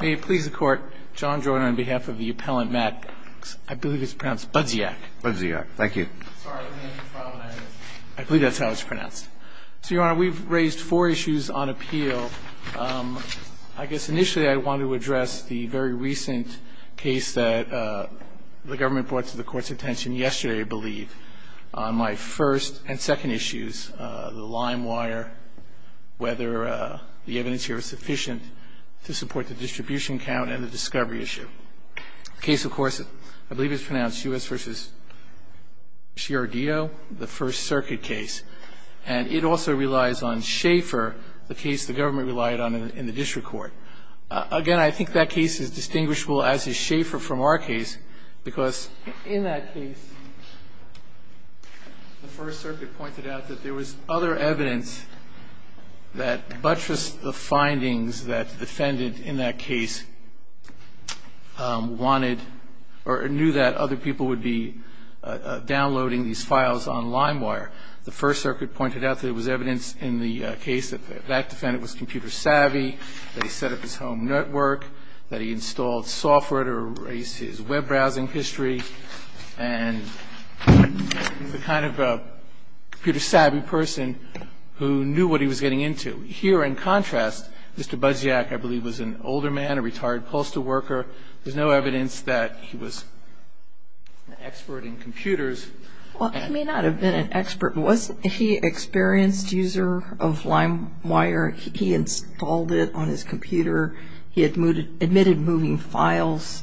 May it please the Court, John Joyner on behalf of the appellant, Max, I believe it's pronounced Budziak. Budziak, thank you. I believe that's how it's pronounced. So, Your Honor, we've raised four issues on appeal. I guess initially I wanted to address the very recent case that the government brought to the Court's attention yesterday, I believe, on my first and second issues, the limewire, whether the evidence here is sufficient to support the distribution count and the discovery issue. The case, of course, I believe it's pronounced U.S. v. Sciardino, the First Circuit case. And it also relies on Schaefer, the case the government relied on in the district court. Again, I think that case is distinguishable as is Schaefer from our case because in that case, the First Circuit pointed out that there was other evidence that buttressed the findings that the defendant in that case wanted or knew that other people would be downloading these files on limewire. The First Circuit pointed out that there was evidence in the case that that defendant was computer savvy, that he set up his home network, that he installed software to erase his web browsing history, and he was the kind of computer savvy person who knew what he was getting into. Here, in contrast, Mr. Budziak, I believe, was an older man, a retired postal worker. There's no evidence that he was an expert in computers. Well, he may not have been an expert, but was he an experienced user of limewire? He installed it on his computer. He admitted moving files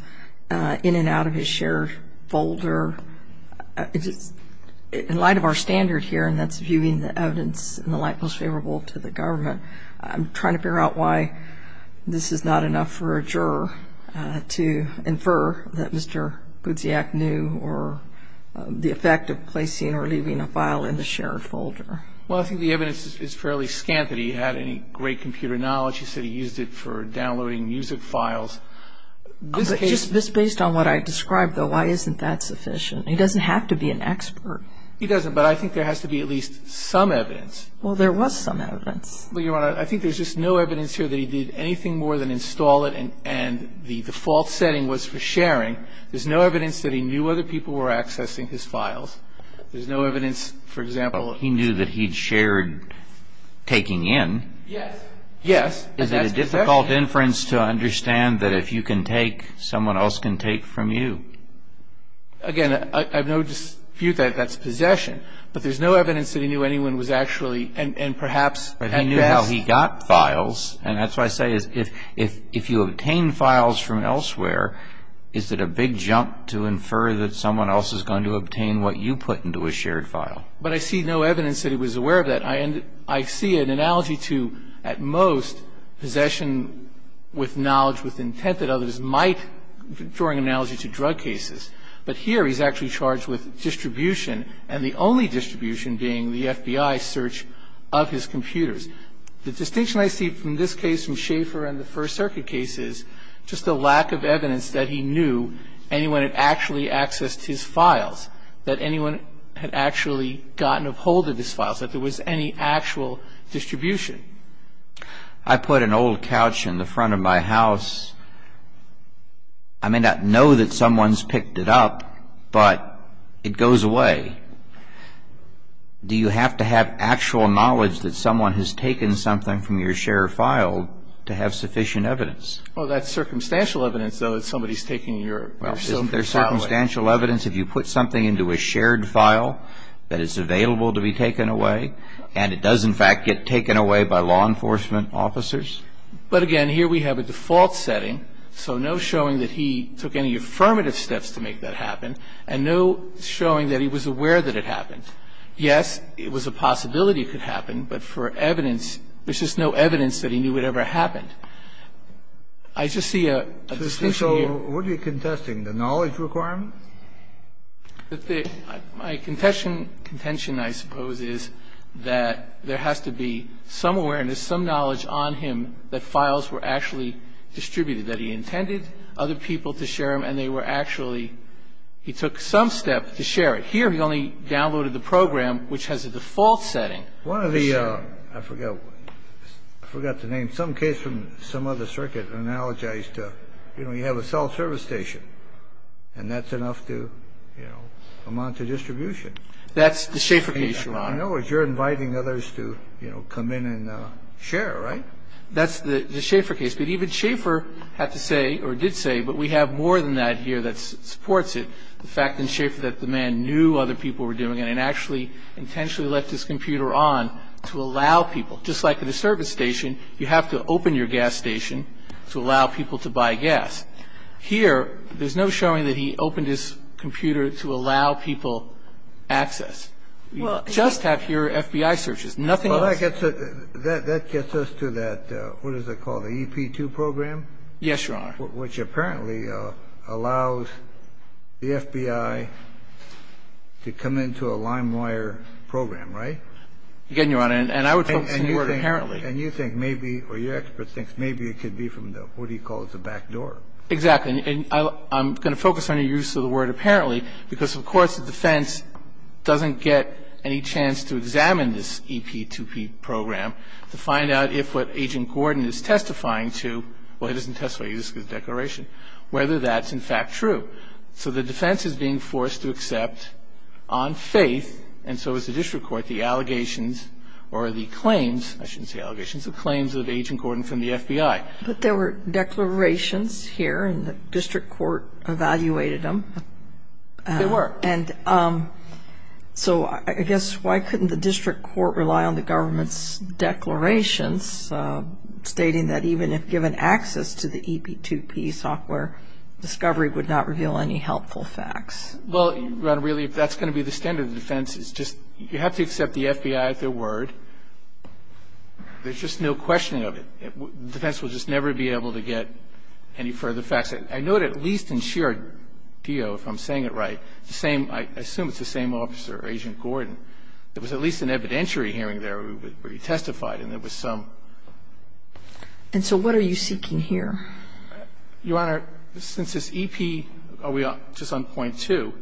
in and out of his shared folder. In light of our standard here, and that's viewing the evidence in the light most favorable to the government, I'm trying to figure out why this is not enough for a juror to infer that Mr. Budziak knew or the effect of placing or leaving a file in the shared folder. Well, I think the evidence is fairly scant that he had any great computer knowledge. He said he used it for downloading music files. Just based on what I described, though, why isn't that sufficient? He doesn't have to be an expert. He doesn't, but I think there has to be at least some evidence. Well, there was some evidence. Well, Your Honor, I think there's just no evidence here that he did anything more than install it and the default setting was for sharing. There's no evidence that he knew other people were accessing his files. There's no evidence, for example, that he knew that he'd shared taking in. Yes. Yes. And that's possession. Is it a difficult inference to understand that if you can take, someone else can take from you? Again, I've no dispute that that's possession, but there's no evidence that he knew anyone was actually, and perhaps at best. But he knew how he got files, and that's why I say if you obtain files from elsewhere, is it a big jump to infer that someone else is going to obtain what you put into a shared file? But I see no evidence that he was aware of that. I see an analogy to, at most, possession with knowledge, with intent, that others might, drawing an analogy to drug cases. But here, he's actually charged with distribution, and the only distribution being the FBI search of his computers. The distinction I see from this case, from Schaefer and the First Circuit case, is just the lack of evidence that he knew anyone had actually accessed his files, that anyone had actually gotten a hold of his files, that there was any actual distribution. I put an old couch in the front of my house. I may not know that someone's picked it up, but it goes away. Do you have to have actual knowledge that someone has taken something from your shared file to have sufficient evidence? Well, that's circumstantial evidence, though, that somebody's taken your file away. Well, isn't there circumstantial evidence if you put something into a shared file, that it's available to be taken away, and it does, in fact, get taken away by law enforcement officers? But, again, here we have a default setting, so no showing that he took any affirmative steps to make that happen, and no showing that he was aware that it happened. Yes, it was a possibility it could happen, but for evidence, there's just no evidence that he knew it ever happened. I just see a distinction here. So what are you contesting, the knowledge requirement? My contention, I suppose, is that there has to be some awareness, some knowledge on him that files were actually distributed, that he intended other people to share them, and they were actually he took some step to share it. Here he only downloaded the program, which has a default setting. One of the – I forgot the name. Some case from some other circuit analogized to, you know, you have a self-service station, and that's enough to, you know, amount to distribution. That's the Schaefer case, Your Honor. I know, but you're inviting others to, you know, come in and share, right? That's the Schaefer case, but even Schaefer had to say, or did say, but we have more than that here that supports it, the fact in Schaefer that the man knew other people were doing it and actually intentionally left his computer on to allow people. Just like at a service station, you have to open your gas station to allow people to buy gas. Here, there's no showing that he opened his computer to allow people access. You just have here FBI searches, nothing else. Well, that gets us to that, what is it called, the EP2 program? Yes, Your Honor. Which apparently allows the FBI to come into a limewire program, right? Again, Your Honor, and I would focus on the word apparently. And you think maybe, or your expert thinks maybe it could be from the, what do you call it, the back door. Exactly. So the defense doesn't get any chance to examine this EP2 program to find out if what Agent Gordon is testifying to, well, he doesn't testify, he just gives a declaration, whether that's in fact true. So the defense is being forced to accept on faith, and so is the district court, the allegations or the claims, I shouldn't say allegations, the claims of Agent Gordon from the FBI. But there were declarations here, and the district court evaluated them. There were. And so I guess why couldn't the district court rely on the government's declarations stating that even if given access to the EP2P software, discovery would not reveal any helpful facts? Well, Your Honor, really, if that's going to be the standard of defense, it's just you have to accept the FBI at their word. There's just no questioning of it. The defense will just never be able to get any further facts. I note at least in Sheard D.O., if I'm saying it right, the same, I assume it's the same officer, Agent Gordon, there was at least an evidentiary hearing there where he testified, and there was some. And so what are you seeking here? Your Honor, since this EP, just on point two,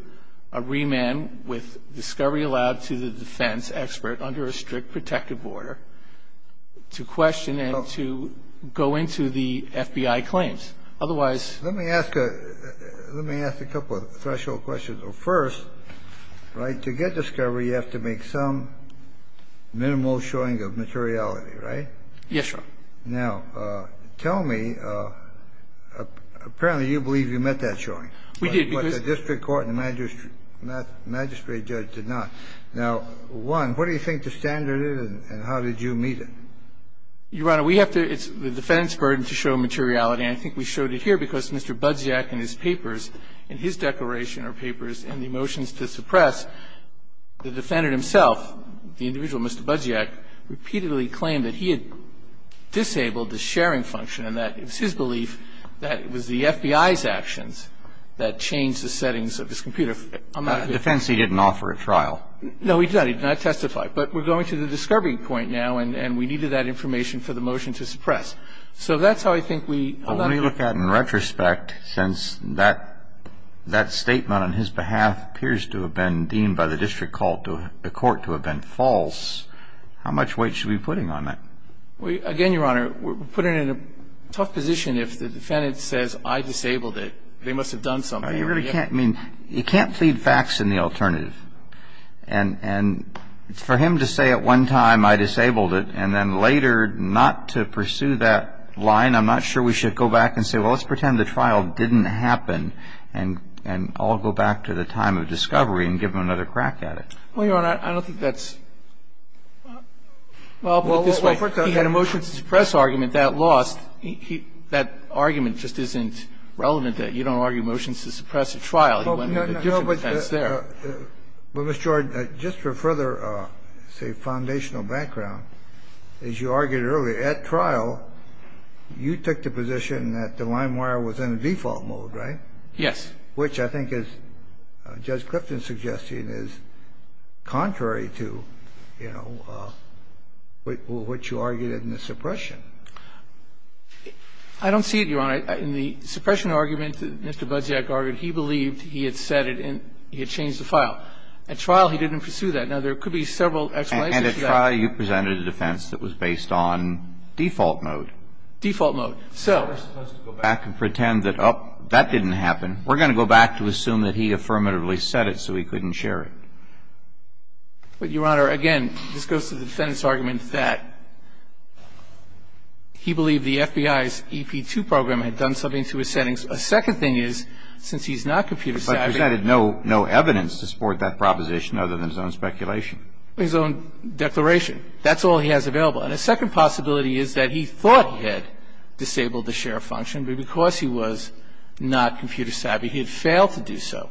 a remand with discovery allowed to the defense expert under a strict protective order to question and to go into the FBI claims. Otherwise ---- Let me ask a couple of threshold questions. First, right, to get discovery, you have to make some minimal showing of materiality, right? Yes, Your Honor. Now, tell me, apparently you believe you met that showing. We did, because ---- Well, we did meet it, but the court and the magistrate judge did not. Now, one, what do you think the standard is and how did you meet it? Your Honor, we have to ---- it's the defendant's burden to show materiality. I think we showed it here because Mr. Budziak and his papers, in his declaration or papers, in the motions to suppress, the defendant himself, the individual, Mr. Budziak, repeatedly claimed that he had disabled the sharing function and that it was his belief that it was the FBI's actions that changed the settings of his computer. I'm not ---- In defense, he didn't offer a trial. No, he did not. He did not testify. But we're going to the discovery point now, and we needed that information for the motion to suppress. So that's how I think we ---- Well, let me look at it in retrospect, since that statement on his behalf appears to have been deemed by the district court to have been false, how much weight should we be putting on that? Again, Your Honor, we're putting it in a tough position if the defendant says, I disabled it, they must have done something. You really can't ---- I mean, you can't feed facts in the alternative. And for him to say at one time, I disabled it, and then later not to pursue that line, I'm not sure we should go back and say, well, let's pretend the trial didn't happen and all go back to the time of discovery and give him another crack at it. Well, Your Honor, I don't think that's ---- Well, I'll put it this way. He had a motion to suppress argument that lost. That argument just isn't relevant that you don't argue motions to suppress a trial. He went in a different sense there. But, Mr. Jordan, just for further, say, foundational background, as you argued earlier, at trial you took the position that the limewire was in default mode, right? Yes. And that's, which I think, as Judge Clifton's suggesting, is contrary to, you know, what you argued in the suppression. I don't see it, Your Honor. In the suppression argument that Mr. Budziak argued, he believed he had said it in ---- he had changed the file. At trial he didn't pursue that. Now, there could be several explanations for that. And at trial you presented a defense that was based on default mode. Default mode. So we're supposed to go back and pretend that, oh, that didn't happen. We're going to go back to assume that he affirmatively said it so he couldn't share it. But, Your Honor, again, this goes to the defendant's argument that he believed the FBI's EP2 program had done something to his settings. A second thing is, since he's not computer savvy ---- But presented no evidence to support that proposition other than his own speculation. His own declaration. That's all he has available. And a second possibility is that he thought he had disabled the share function, but because he was not computer savvy, he had failed to do so.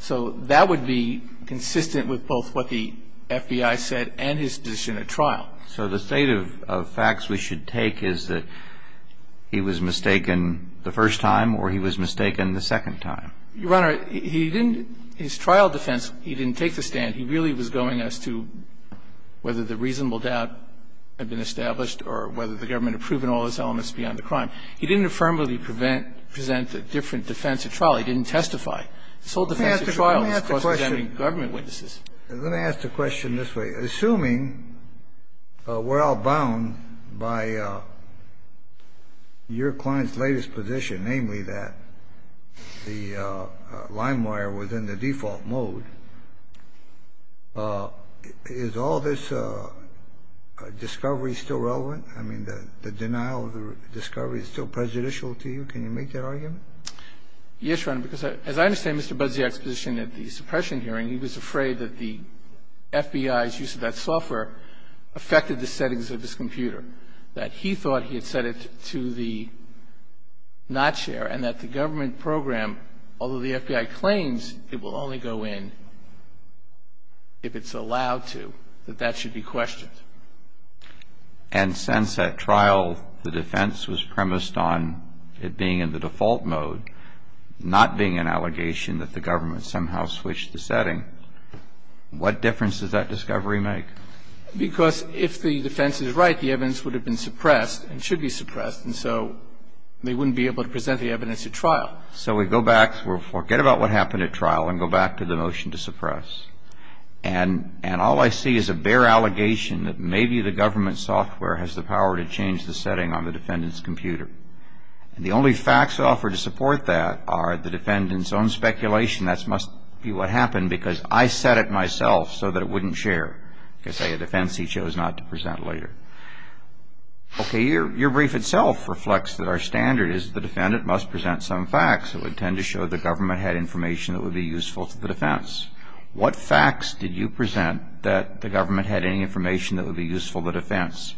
So that would be consistent with both what the FBI said and his position at trial. So the state of facts we should take is that he was mistaken the first time or he was mistaken the second time? Your Honor, he didn't ---- his trial defense, he didn't take the stand. He really was going as to whether the reasonable doubt had been established or whether the government had proven all those elements beyond the crime. He didn't affirmably prevent or present a different defense at trial. He didn't testify. This whole defense at trial was caused by government witnesses. Let me ask the question this way. Assuming we're outbound by your client's latest position, namely that the limewire was in the default mode, is all this discovery still relevant? I mean, the denial of the discovery is still prejudicial to you? Can you make that argument? Yes, Your Honor, because as I understand Mr. Budziak's position at the suppression hearing, he was afraid that the FBI's use of that software affected the settings of his computer, that he thought he had set it to the not share, and that the government program, although the FBI claims it will only go in if it's allowed to, that that should be questioned. And since at trial the defense was premised on it being in the default mode, not being an allegation that the government somehow switched the setting, what difference does that discovery make? Because if the defense is right, the evidence would have been suppressed and should be suppressed, and so they wouldn't be able to present the evidence at trial. So we go back, we forget about what happened at trial, and go back to the motion to suppress. And all I see is a bare allegation that maybe the government software has the power to change the setting on the defendant's computer. And the only facts offered to support that are the defendant's own speculation, that must be what happened because I set it myself so that it wouldn't share. You could say a defense he chose not to present later. Okay, your brief itself reflects that our standard is the defendant must present some facts that would tend to show the government had information that would be useful to the defense. What facts did you present that the government had any information that would be useful to the defense,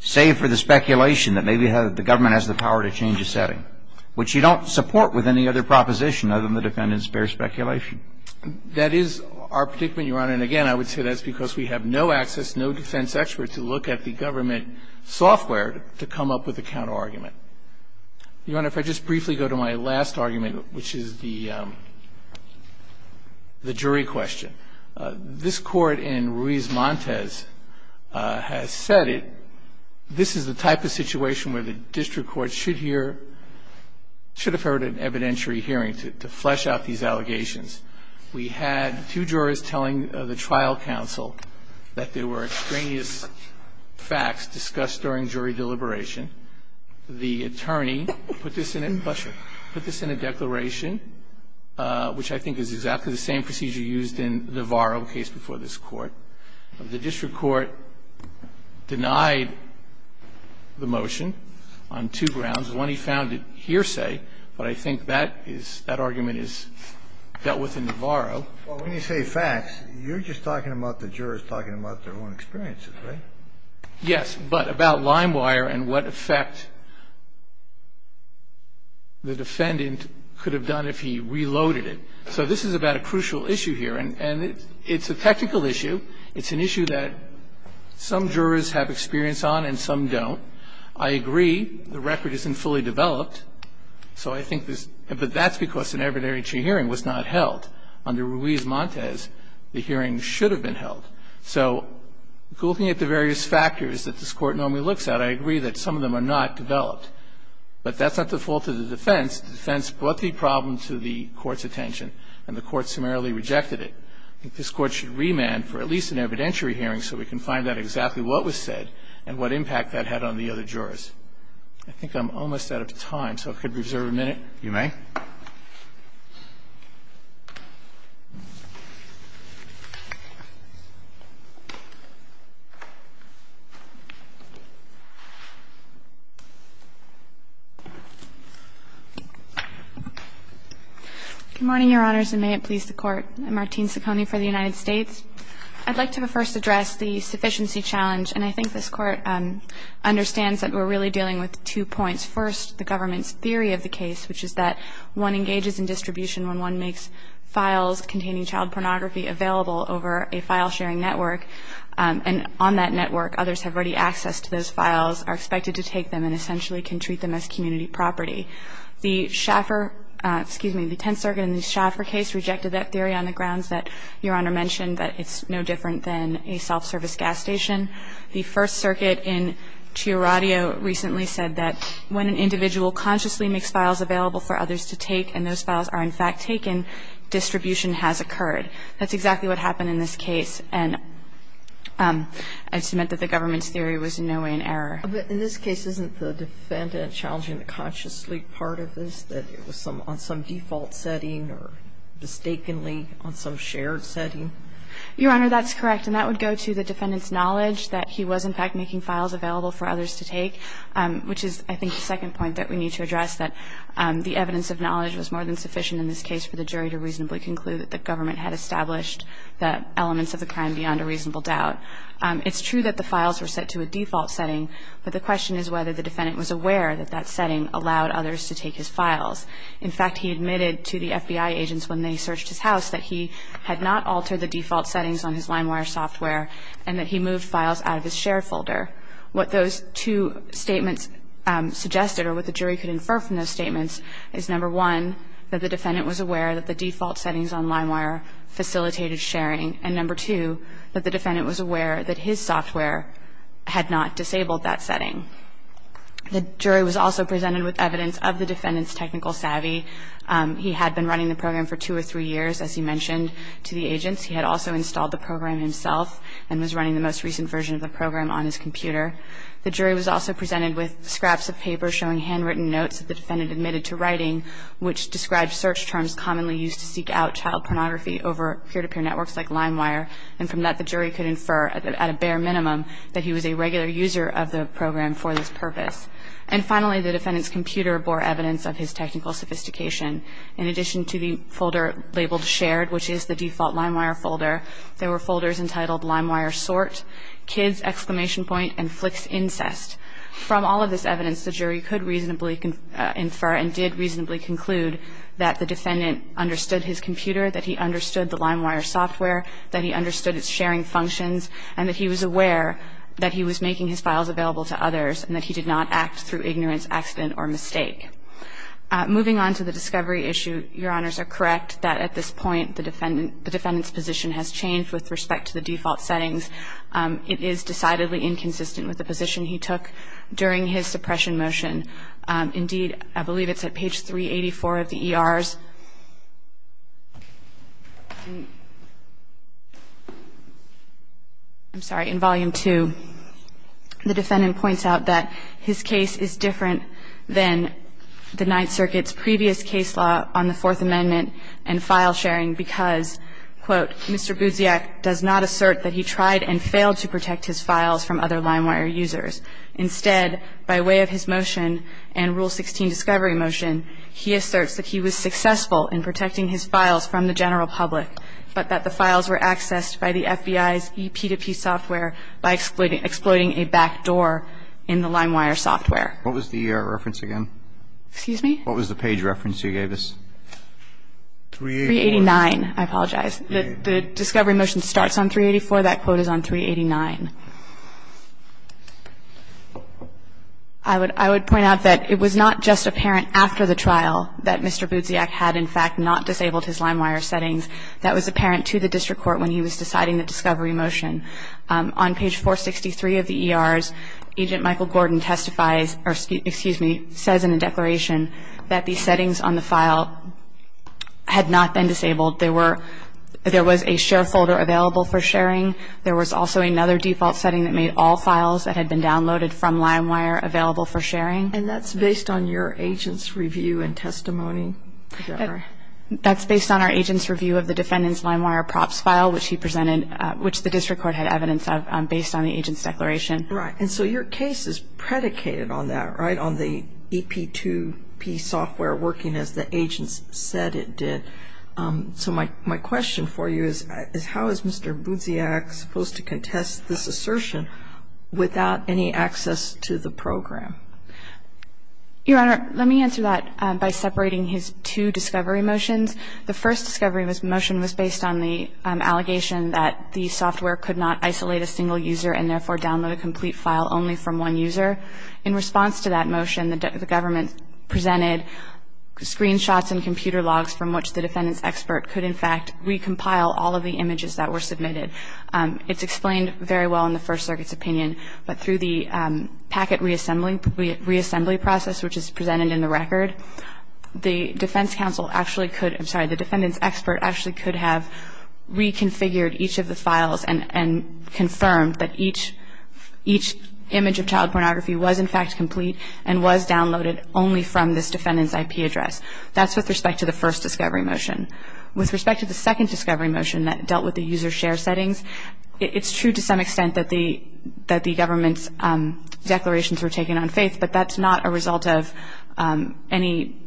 save for the speculation that maybe the government has the power to change the setting, which you don't support with any other proposition other than the defendant's bare speculation? That is our predicament, Your Honor. And again, I would say that's because we have no access, no defense experts who look at the government software to come up with a counterargument. Your Honor, if I just briefly go to my last argument, which is the jury question. This Court in Ruiz-Montes has said it. This is the type of situation where the district court should have heard an evidentiary hearing to flesh out these allegations. We had two jurors telling the trial counsel that there were extraneous facts discussed during jury deliberation. The attorney put this in a declaration, which I think is exactly the same procedure used in Navarro, the case before this Court. The district court denied the motion on two grounds. One, he found it hearsay, but I think that is that argument is dealt with in Navarro. Well, when you say facts, you're just talking about the jurors talking about their own experiences, right? Yes, but about Limewire and what effect the defendant could have done if he reloaded it. So this is about a crucial issue here, and it's a technical issue. It's an issue that some jurors have experience on and some don't. I agree the record isn't fully developed, but that's because an evidentiary hearing was not held. Under Ruiz-Montes, the hearing should have been held. So looking at the various factors that this Court normally looks at, I agree that some of them are not developed. But that's not the fault of the defense. The defense brought the problem to the Court's attention, and the Court summarily rejected it. I think this Court should remand for at least an evidentiary hearing so we can find out exactly what was said and what impact that had on the other jurors. I think I'm almost out of time, so if we could reserve a minute. Roberts. You may. Good morning, Your Honors, and may it please the Court. I'm Martine Ciccone for the United States. I'd like to first address the sufficiency challenge, and I think this Court understands that we're really dealing with two points. First, the government's theory of the case, which is that one engages in distribution when one makes files containing child pornography available over a file-sharing network, and on that network, others have ready access to those files, are expected to take them, and essentially can treat them as community property. The Schaffer – excuse me, the Tenth Circuit in the Schaffer case rejected that theory on the grounds that Your Honor mentioned, that it's no different than a self-service gas station. The First Circuit in Chiaradio recently said that when an individual consciously makes files available for others to take and those files are in fact taken, distribution has occurred. That's exactly what happened in this case, and I just meant that the government's theory was in no way an error. But in this case, isn't the defendant challenging the consciously part of this, that it was on some default setting or mistakenly on some shared setting? Your Honor, that's correct. And that would go to the defendant's knowledge that he was in fact making files available for others to take, which is, I think, the second point that we need to address, that the evidence of knowledge was more than sufficient in this case for the jury to reasonably conclude that the government had established the elements of the crime beyond a reasonable doubt. It's true that the files were set to a default setting, but the question is whether the defendant was aware that that setting allowed others to take his files. In fact, he admitted to the FBI agents when they searched his house that he had not altered the default settings on his LineWire software and that he moved files out of his shared folder. What those two statements suggested or what the jury could infer from those statements is, number one, that the defendant was aware that the default settings on LineWire facilitated sharing, and number two, that the defendant was aware that his software had not disabled that setting. The jury was also presented with evidence of the defendant's technical savvy. He had been running the program for two or three years, as he mentioned to the agents. He had also installed the program himself and was running the most recent version of the program on his computer. The jury was also presented with scraps of paper showing handwritten notes that the defendant admitted to writing, which described search terms commonly used to seek out child pornography over peer-to-peer networks like LineWire, and from that, the jury could infer at a bare minimum that he was a regular user of the program for this purpose. And finally, the defendant's computer bore evidence of his technical sophistication. In addition to the folder labeled Shared, which is the default LineWire folder, there were folders entitled LineWire Sort, Kids! and FlixIncest. From all of this evidence, the jury could reasonably infer and did reasonably conclude that the defendant understood his computer, that he understood the LineWire software, that he understood its sharing functions, and that he was aware that he was a regular user of the program, and that he did not act through ignorance, accident or mistake. Moving on to the discovery issue, Your Honors are correct that at this point, the defendant's position has changed with respect to the default settings. It is decidedly inconsistent with the position he took during his suppression motion. Indeed, I believe it's at page 384 of the ER's – I'm sorry, in Volume 2. The defendant points out that his case is different than the Ninth Circuit's previous case law on the Fourth Amendment and file sharing because, quote, Mr. Budziak does not assert that he tried and failed to protect his files from other LineWire users. Instead, by way of his motion and Rule 16 discovery motion, he asserts that he was successful in protecting his files from the general public, but that the files were backdoor in the LineWire software. What was the reference again? Excuse me? What was the page reference you gave us? 384. 389. I apologize. The discovery motion starts on 384. That quote is on 389. I would point out that it was not just apparent after the trial that Mr. Budziak had, in fact, not disabled his LineWire settings. That was apparent to the district court when he was deciding the discovery motion. On page 463 of the ERs, Agent Michael Gordon testifies or, excuse me, says in the declaration that the settings on the file had not been disabled. There was a share folder available for sharing. There was also another default setting that made all files that had been downloaded from LineWire available for sharing. And that's based on your agent's review and testimony? That's based on our agent's review of the defendant's LineWire props file, which he presented, which the district court had evidence of, based on the agent's declaration. Right. And so your case is predicated on that, right, on the EP2P software working as the agents said it did. So my question for you is how is Mr. Budziak supposed to contest this assertion without any access to the program? Your Honor, let me answer that by separating his two discovery motions. The first discovery motion was based on the allegation that the software could not isolate a single user and therefore download a complete file only from one user. In response to that motion, the government presented screenshots and computer logs from which the defendant's expert could, in fact, recompile all of the images that were submitted. It's explained very well in the First Circuit's opinion. But through the packet reassembly process, which is presented in the record, the defense counsel actually could, I'm sorry, the defendant's expert actually could have reconfigured each of the files and confirmed that each image of child pornography was, in fact, complete and was downloaded only from this defendant's IP address. That's with respect to the first discovery motion. With respect to the second discovery motion that dealt with the user share settings, it's true to some extent that the government's declarations were taken on faith, but that's not a result of any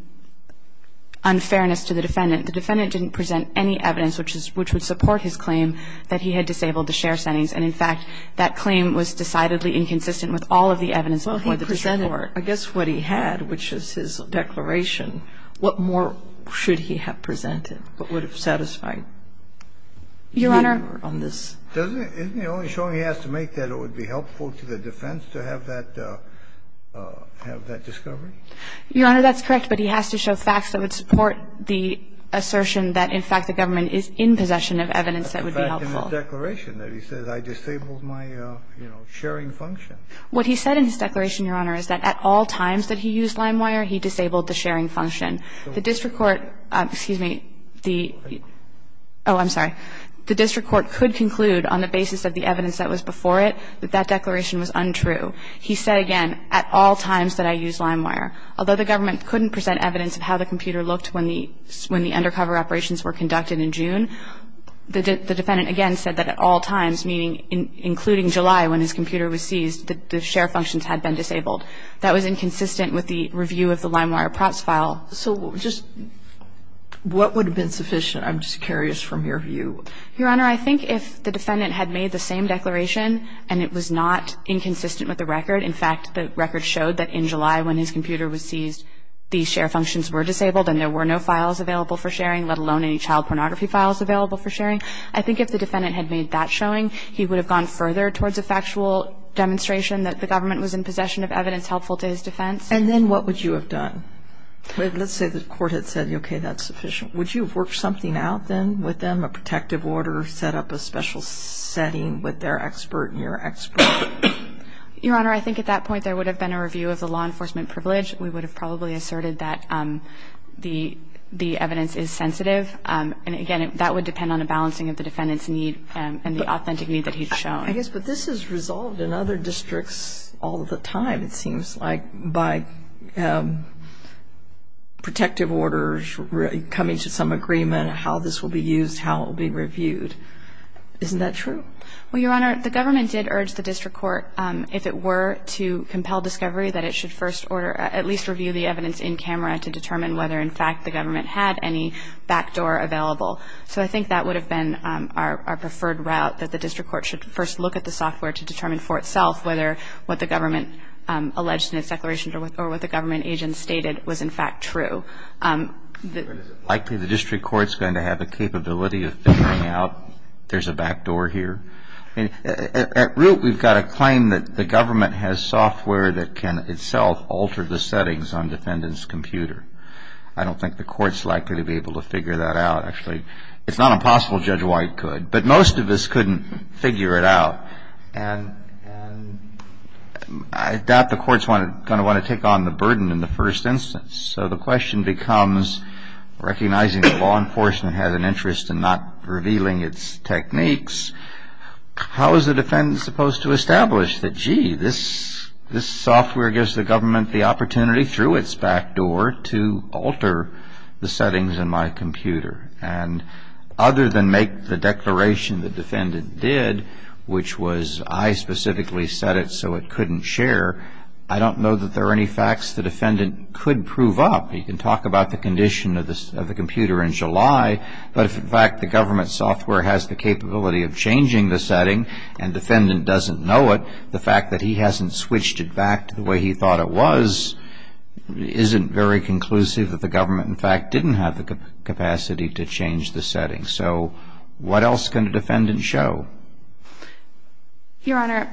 unfairness to the defendant. The defendant didn't present any evidence which would support his claim that he had disabled the share settings. And, in fact, that claim was decidedly inconsistent with all of the evidence before the district court. Kagan. Well, he presented, I guess, what he had, which is his declaration. What more should he have presented? What would have satisfied him on this? Your Honor. Isn't the only showing he has to make that it would be helpful to the defense to have that discovery? Your Honor, that's correct, but he has to show facts that would support the assertion that, in fact, the government is in possession of evidence that would be helpful. The fact in his declaration that he says, I disabled my, you know, sharing function. What he said in his declaration, Your Honor, is that at all times that he used LimeWire, he disabled the sharing function. The district court, excuse me, the oh, I'm sorry. The district court could conclude on the basis of the evidence that was before it that that declaration was untrue. He said again, at all times that I used LimeWire. Although the government couldn't present evidence of how the computer looked when the undercover operations were conducted in June, the defendant, again, said that at all times, meaning including July when his computer was seized, the share functions had been disabled. That was inconsistent with the review of the LimeWire props file. So just what would have been sufficient? I'm just curious from your view. Your Honor, I think if the defendant had made the same declaration and it was not inconsistent with the record, in fact, the record showed that in July when his computer was seized, the share functions were disabled and there were no files available for sharing, let alone any child pornography files available for sharing. I think if the defendant had made that showing, he would have gone further towards a factual demonstration that the government was in possession of evidence helpful to his defense. And then what would you have done? Let's say the court had said, okay, that's sufficient. Would you have worked something out then with them, a protective order, set up a special setting with their expert and your expert? Your Honor, I think at that point there would have been a review of the law enforcement privilege. We would have probably asserted that the evidence is sensitive. And, again, that would depend on a balancing of the defendant's need and the authentic need that he'd shown. I guess, but this is resolved in other districts all the time, it seems like, by protective orders coming to some agreement how this will be used, how it will be reviewed. Isn't that true? Well, Your Honor, the government did urge the district court, if it were to compel discovery, that it should first order at least review the evidence in camera to determine whether, in fact, the government had any backdoor available. So I think that would have been our preferred route, that the district court should first look at the software to determine for itself whether what the government alleged in its declaration or what the government agent stated was in fact true. But is it likely the district court's going to have the capability of figuring out there's a backdoor here? I mean, at root we've got a claim that the government has software that can itself alter the settings on defendant's computer. I don't think the court's likely to be able to figure that out, actually. It's not impossible Judge White could. But most of us couldn't figure it out. And I doubt the court's going to want to take on the burden in the first instance. So the question becomes, recognizing that law enforcement has an interest in not revealing its techniques, how is the defendant supposed to establish that, gee, this software gives the government the opportunity through its backdoor to alter the settings in my computer? And other than make the declaration the defendant did, which was I specifically said it so it couldn't share, I don't know that there are any facts the defendant could prove up. He can talk about the condition of the computer in July. But if in fact the government software has the capability of changing the setting and defendant doesn't know it, the fact that he hasn't switched it back to the way he thought it was isn't very conclusive that the government in fact didn't have the capacity to change the settings. So what else can a defendant show? Your Honor,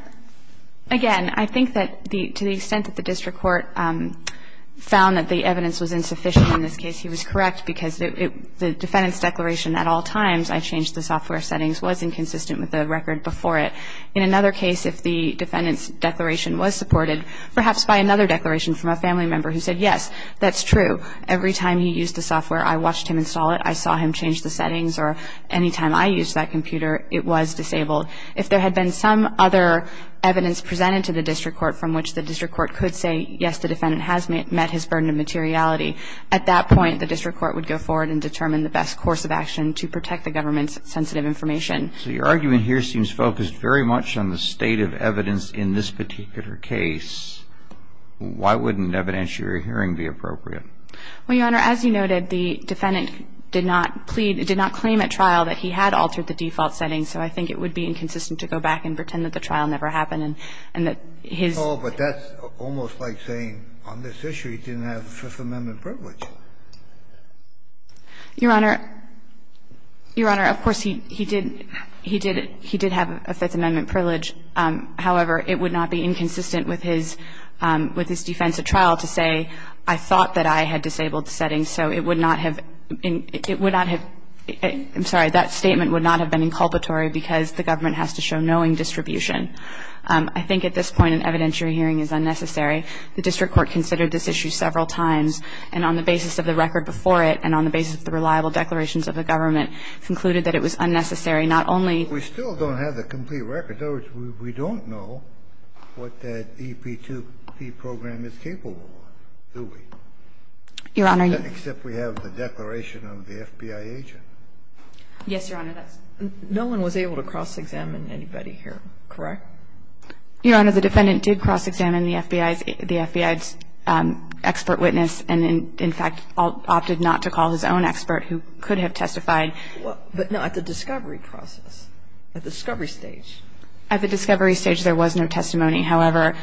again, I think that to the extent that the district court found that the evidence was insufficient in this case, he was correct because the defendant's declaration at all times, I changed the software settings, wasn't consistent with the record before it. In another case, if the defendant's declaration was supported, perhaps by another declaration from a family member who said, yes, that's true. Every time he used the software, I watched him install it. I saw him change the settings. Or any time I used that computer, it was disabled. If there had been some other evidence presented to the district court from which the district court could say, yes, the defendant has met his burden of materiality, at that point the district court would go forward and determine the best course of action to protect the government's sensitive information. So your argument here seems focused very much on the state of evidence in this particular case. Why wouldn't evidence you're hearing be appropriate? Well, Your Honor, as you noted, the defendant did not plead, did not claim at trial that he had altered the default settings. So I think it would be inconsistent to go back and pretend that the trial never happened and that his ---- No, but that's almost like saying on this issue he didn't have a Fifth Amendment privilege. Your Honor, Your Honor, of course, he did, he did, he did have a Fifth Amendment privilege. However, it would not be inconsistent with his, with his defense at trial to say, I thought that I had disabled settings, so it would not have, it would not have ---- I'm sorry, that statement would not have been inculpatory because the government has to show knowing distribution. I think at this point an evidence you're hearing is unnecessary. The district court considered this issue several times, and on the basis of the record before it and on the basis of the reliable declarations of the government, concluded that it was unnecessary not only ---- We still don't have the complete record. In other words, we don't know what that EP2P program is capable of, do we? Your Honor, you ---- Except we have the declaration of the FBI agent. Yes, Your Honor, that's ---- No one was able to cross-examine anybody here, correct? Your Honor, the defendant did cross-examine the FBI's, the FBI's expert witness and in fact opted not to call his own expert who could have testified. But no, at the discovery process, at the discovery stage. At the discovery stage there was no testimony. However,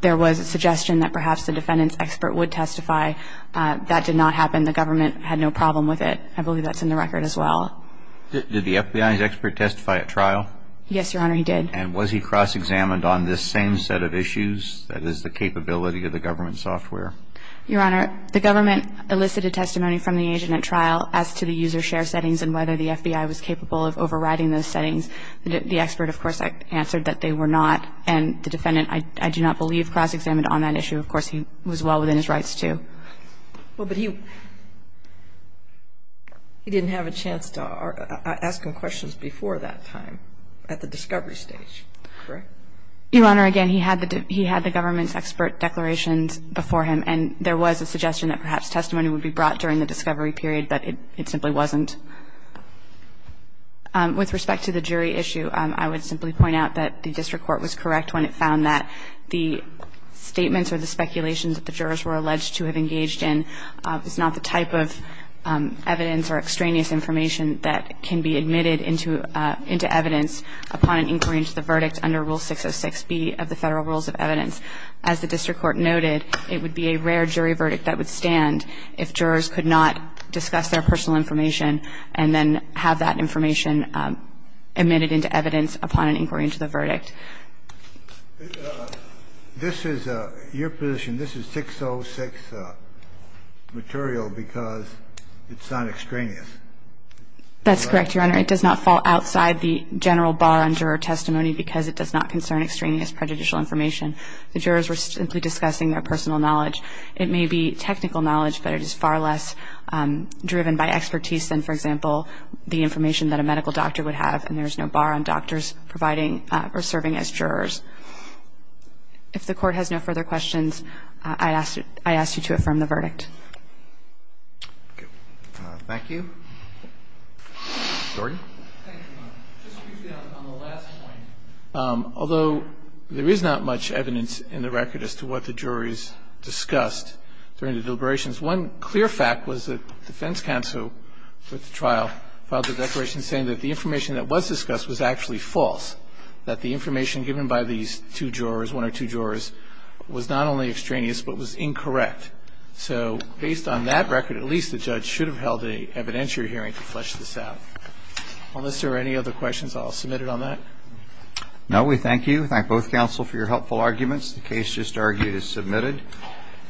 there was a suggestion that perhaps the defendant's expert would testify. That did not happen. The government had no problem with it. I believe that's in the record as well. Did the FBI's expert testify at trial? Yes, Your Honor, he did. And was he cross-examined on this same set of issues, that is the capability of the government software? Your Honor, the government elicited testimony from the agent at trial as to the user share settings and whether the FBI was capable of overriding those settings. The expert, of course, answered that they were not. And the defendant, I do not believe, cross-examined on that issue. Of course, he was well within his rights to. Well, but he didn't have a chance to ask him questions before that time at the discovery stage, correct? Your Honor, again, he had the government's expert declarations before him and there was a suggestion that perhaps testimony would be brought during the discovery period, but it simply wasn't. With respect to the jury issue, I would simply point out that the district court was correct when it found that the statements or the speculations that the jurors were alleged to have engaged in is not the type of evidence or extraneous information that can be admitted into evidence upon an inquiry into the verdict under Rule 606B of the Federal Rules of Evidence. As the district court noted, it would be a rare jury verdict that would stand if jurors could not discuss their personal information and then have that information admitted into evidence upon an inquiry into the verdict. This is your position. This is 606 material because it's not extraneous. That's correct, Your Honor. It does not fall outside the general bar on juror testimony because it does not concern extraneous prejudicial information. The jurors were simply discussing their personal knowledge. It may be technical knowledge, but it is far less driven by expertise than, for example, the information that a medical doctor would have, and there is no bar on doctors providing or serving as jurors. If the Court has no further questions, I ask you to affirm the verdict. Thank you. Jordan. Thank you, Your Honor. Just briefly on the last point, although there is not much evidence in the record as to what the juries discussed during the deliberations, one clear fact was that defense counsel at the trial filed a declaration saying that the information that was discussed was actually false, that the information given by these two jurors, one or two jurors, was not only extraneous but was incorrect. So based on that record, at least the judge should have held an evidentiary hearing to flesh this out. Unless there are any other questions, I'll submit it on that. No, we thank you. Thank both counsel for your helpful arguments. The case just argued is submitted.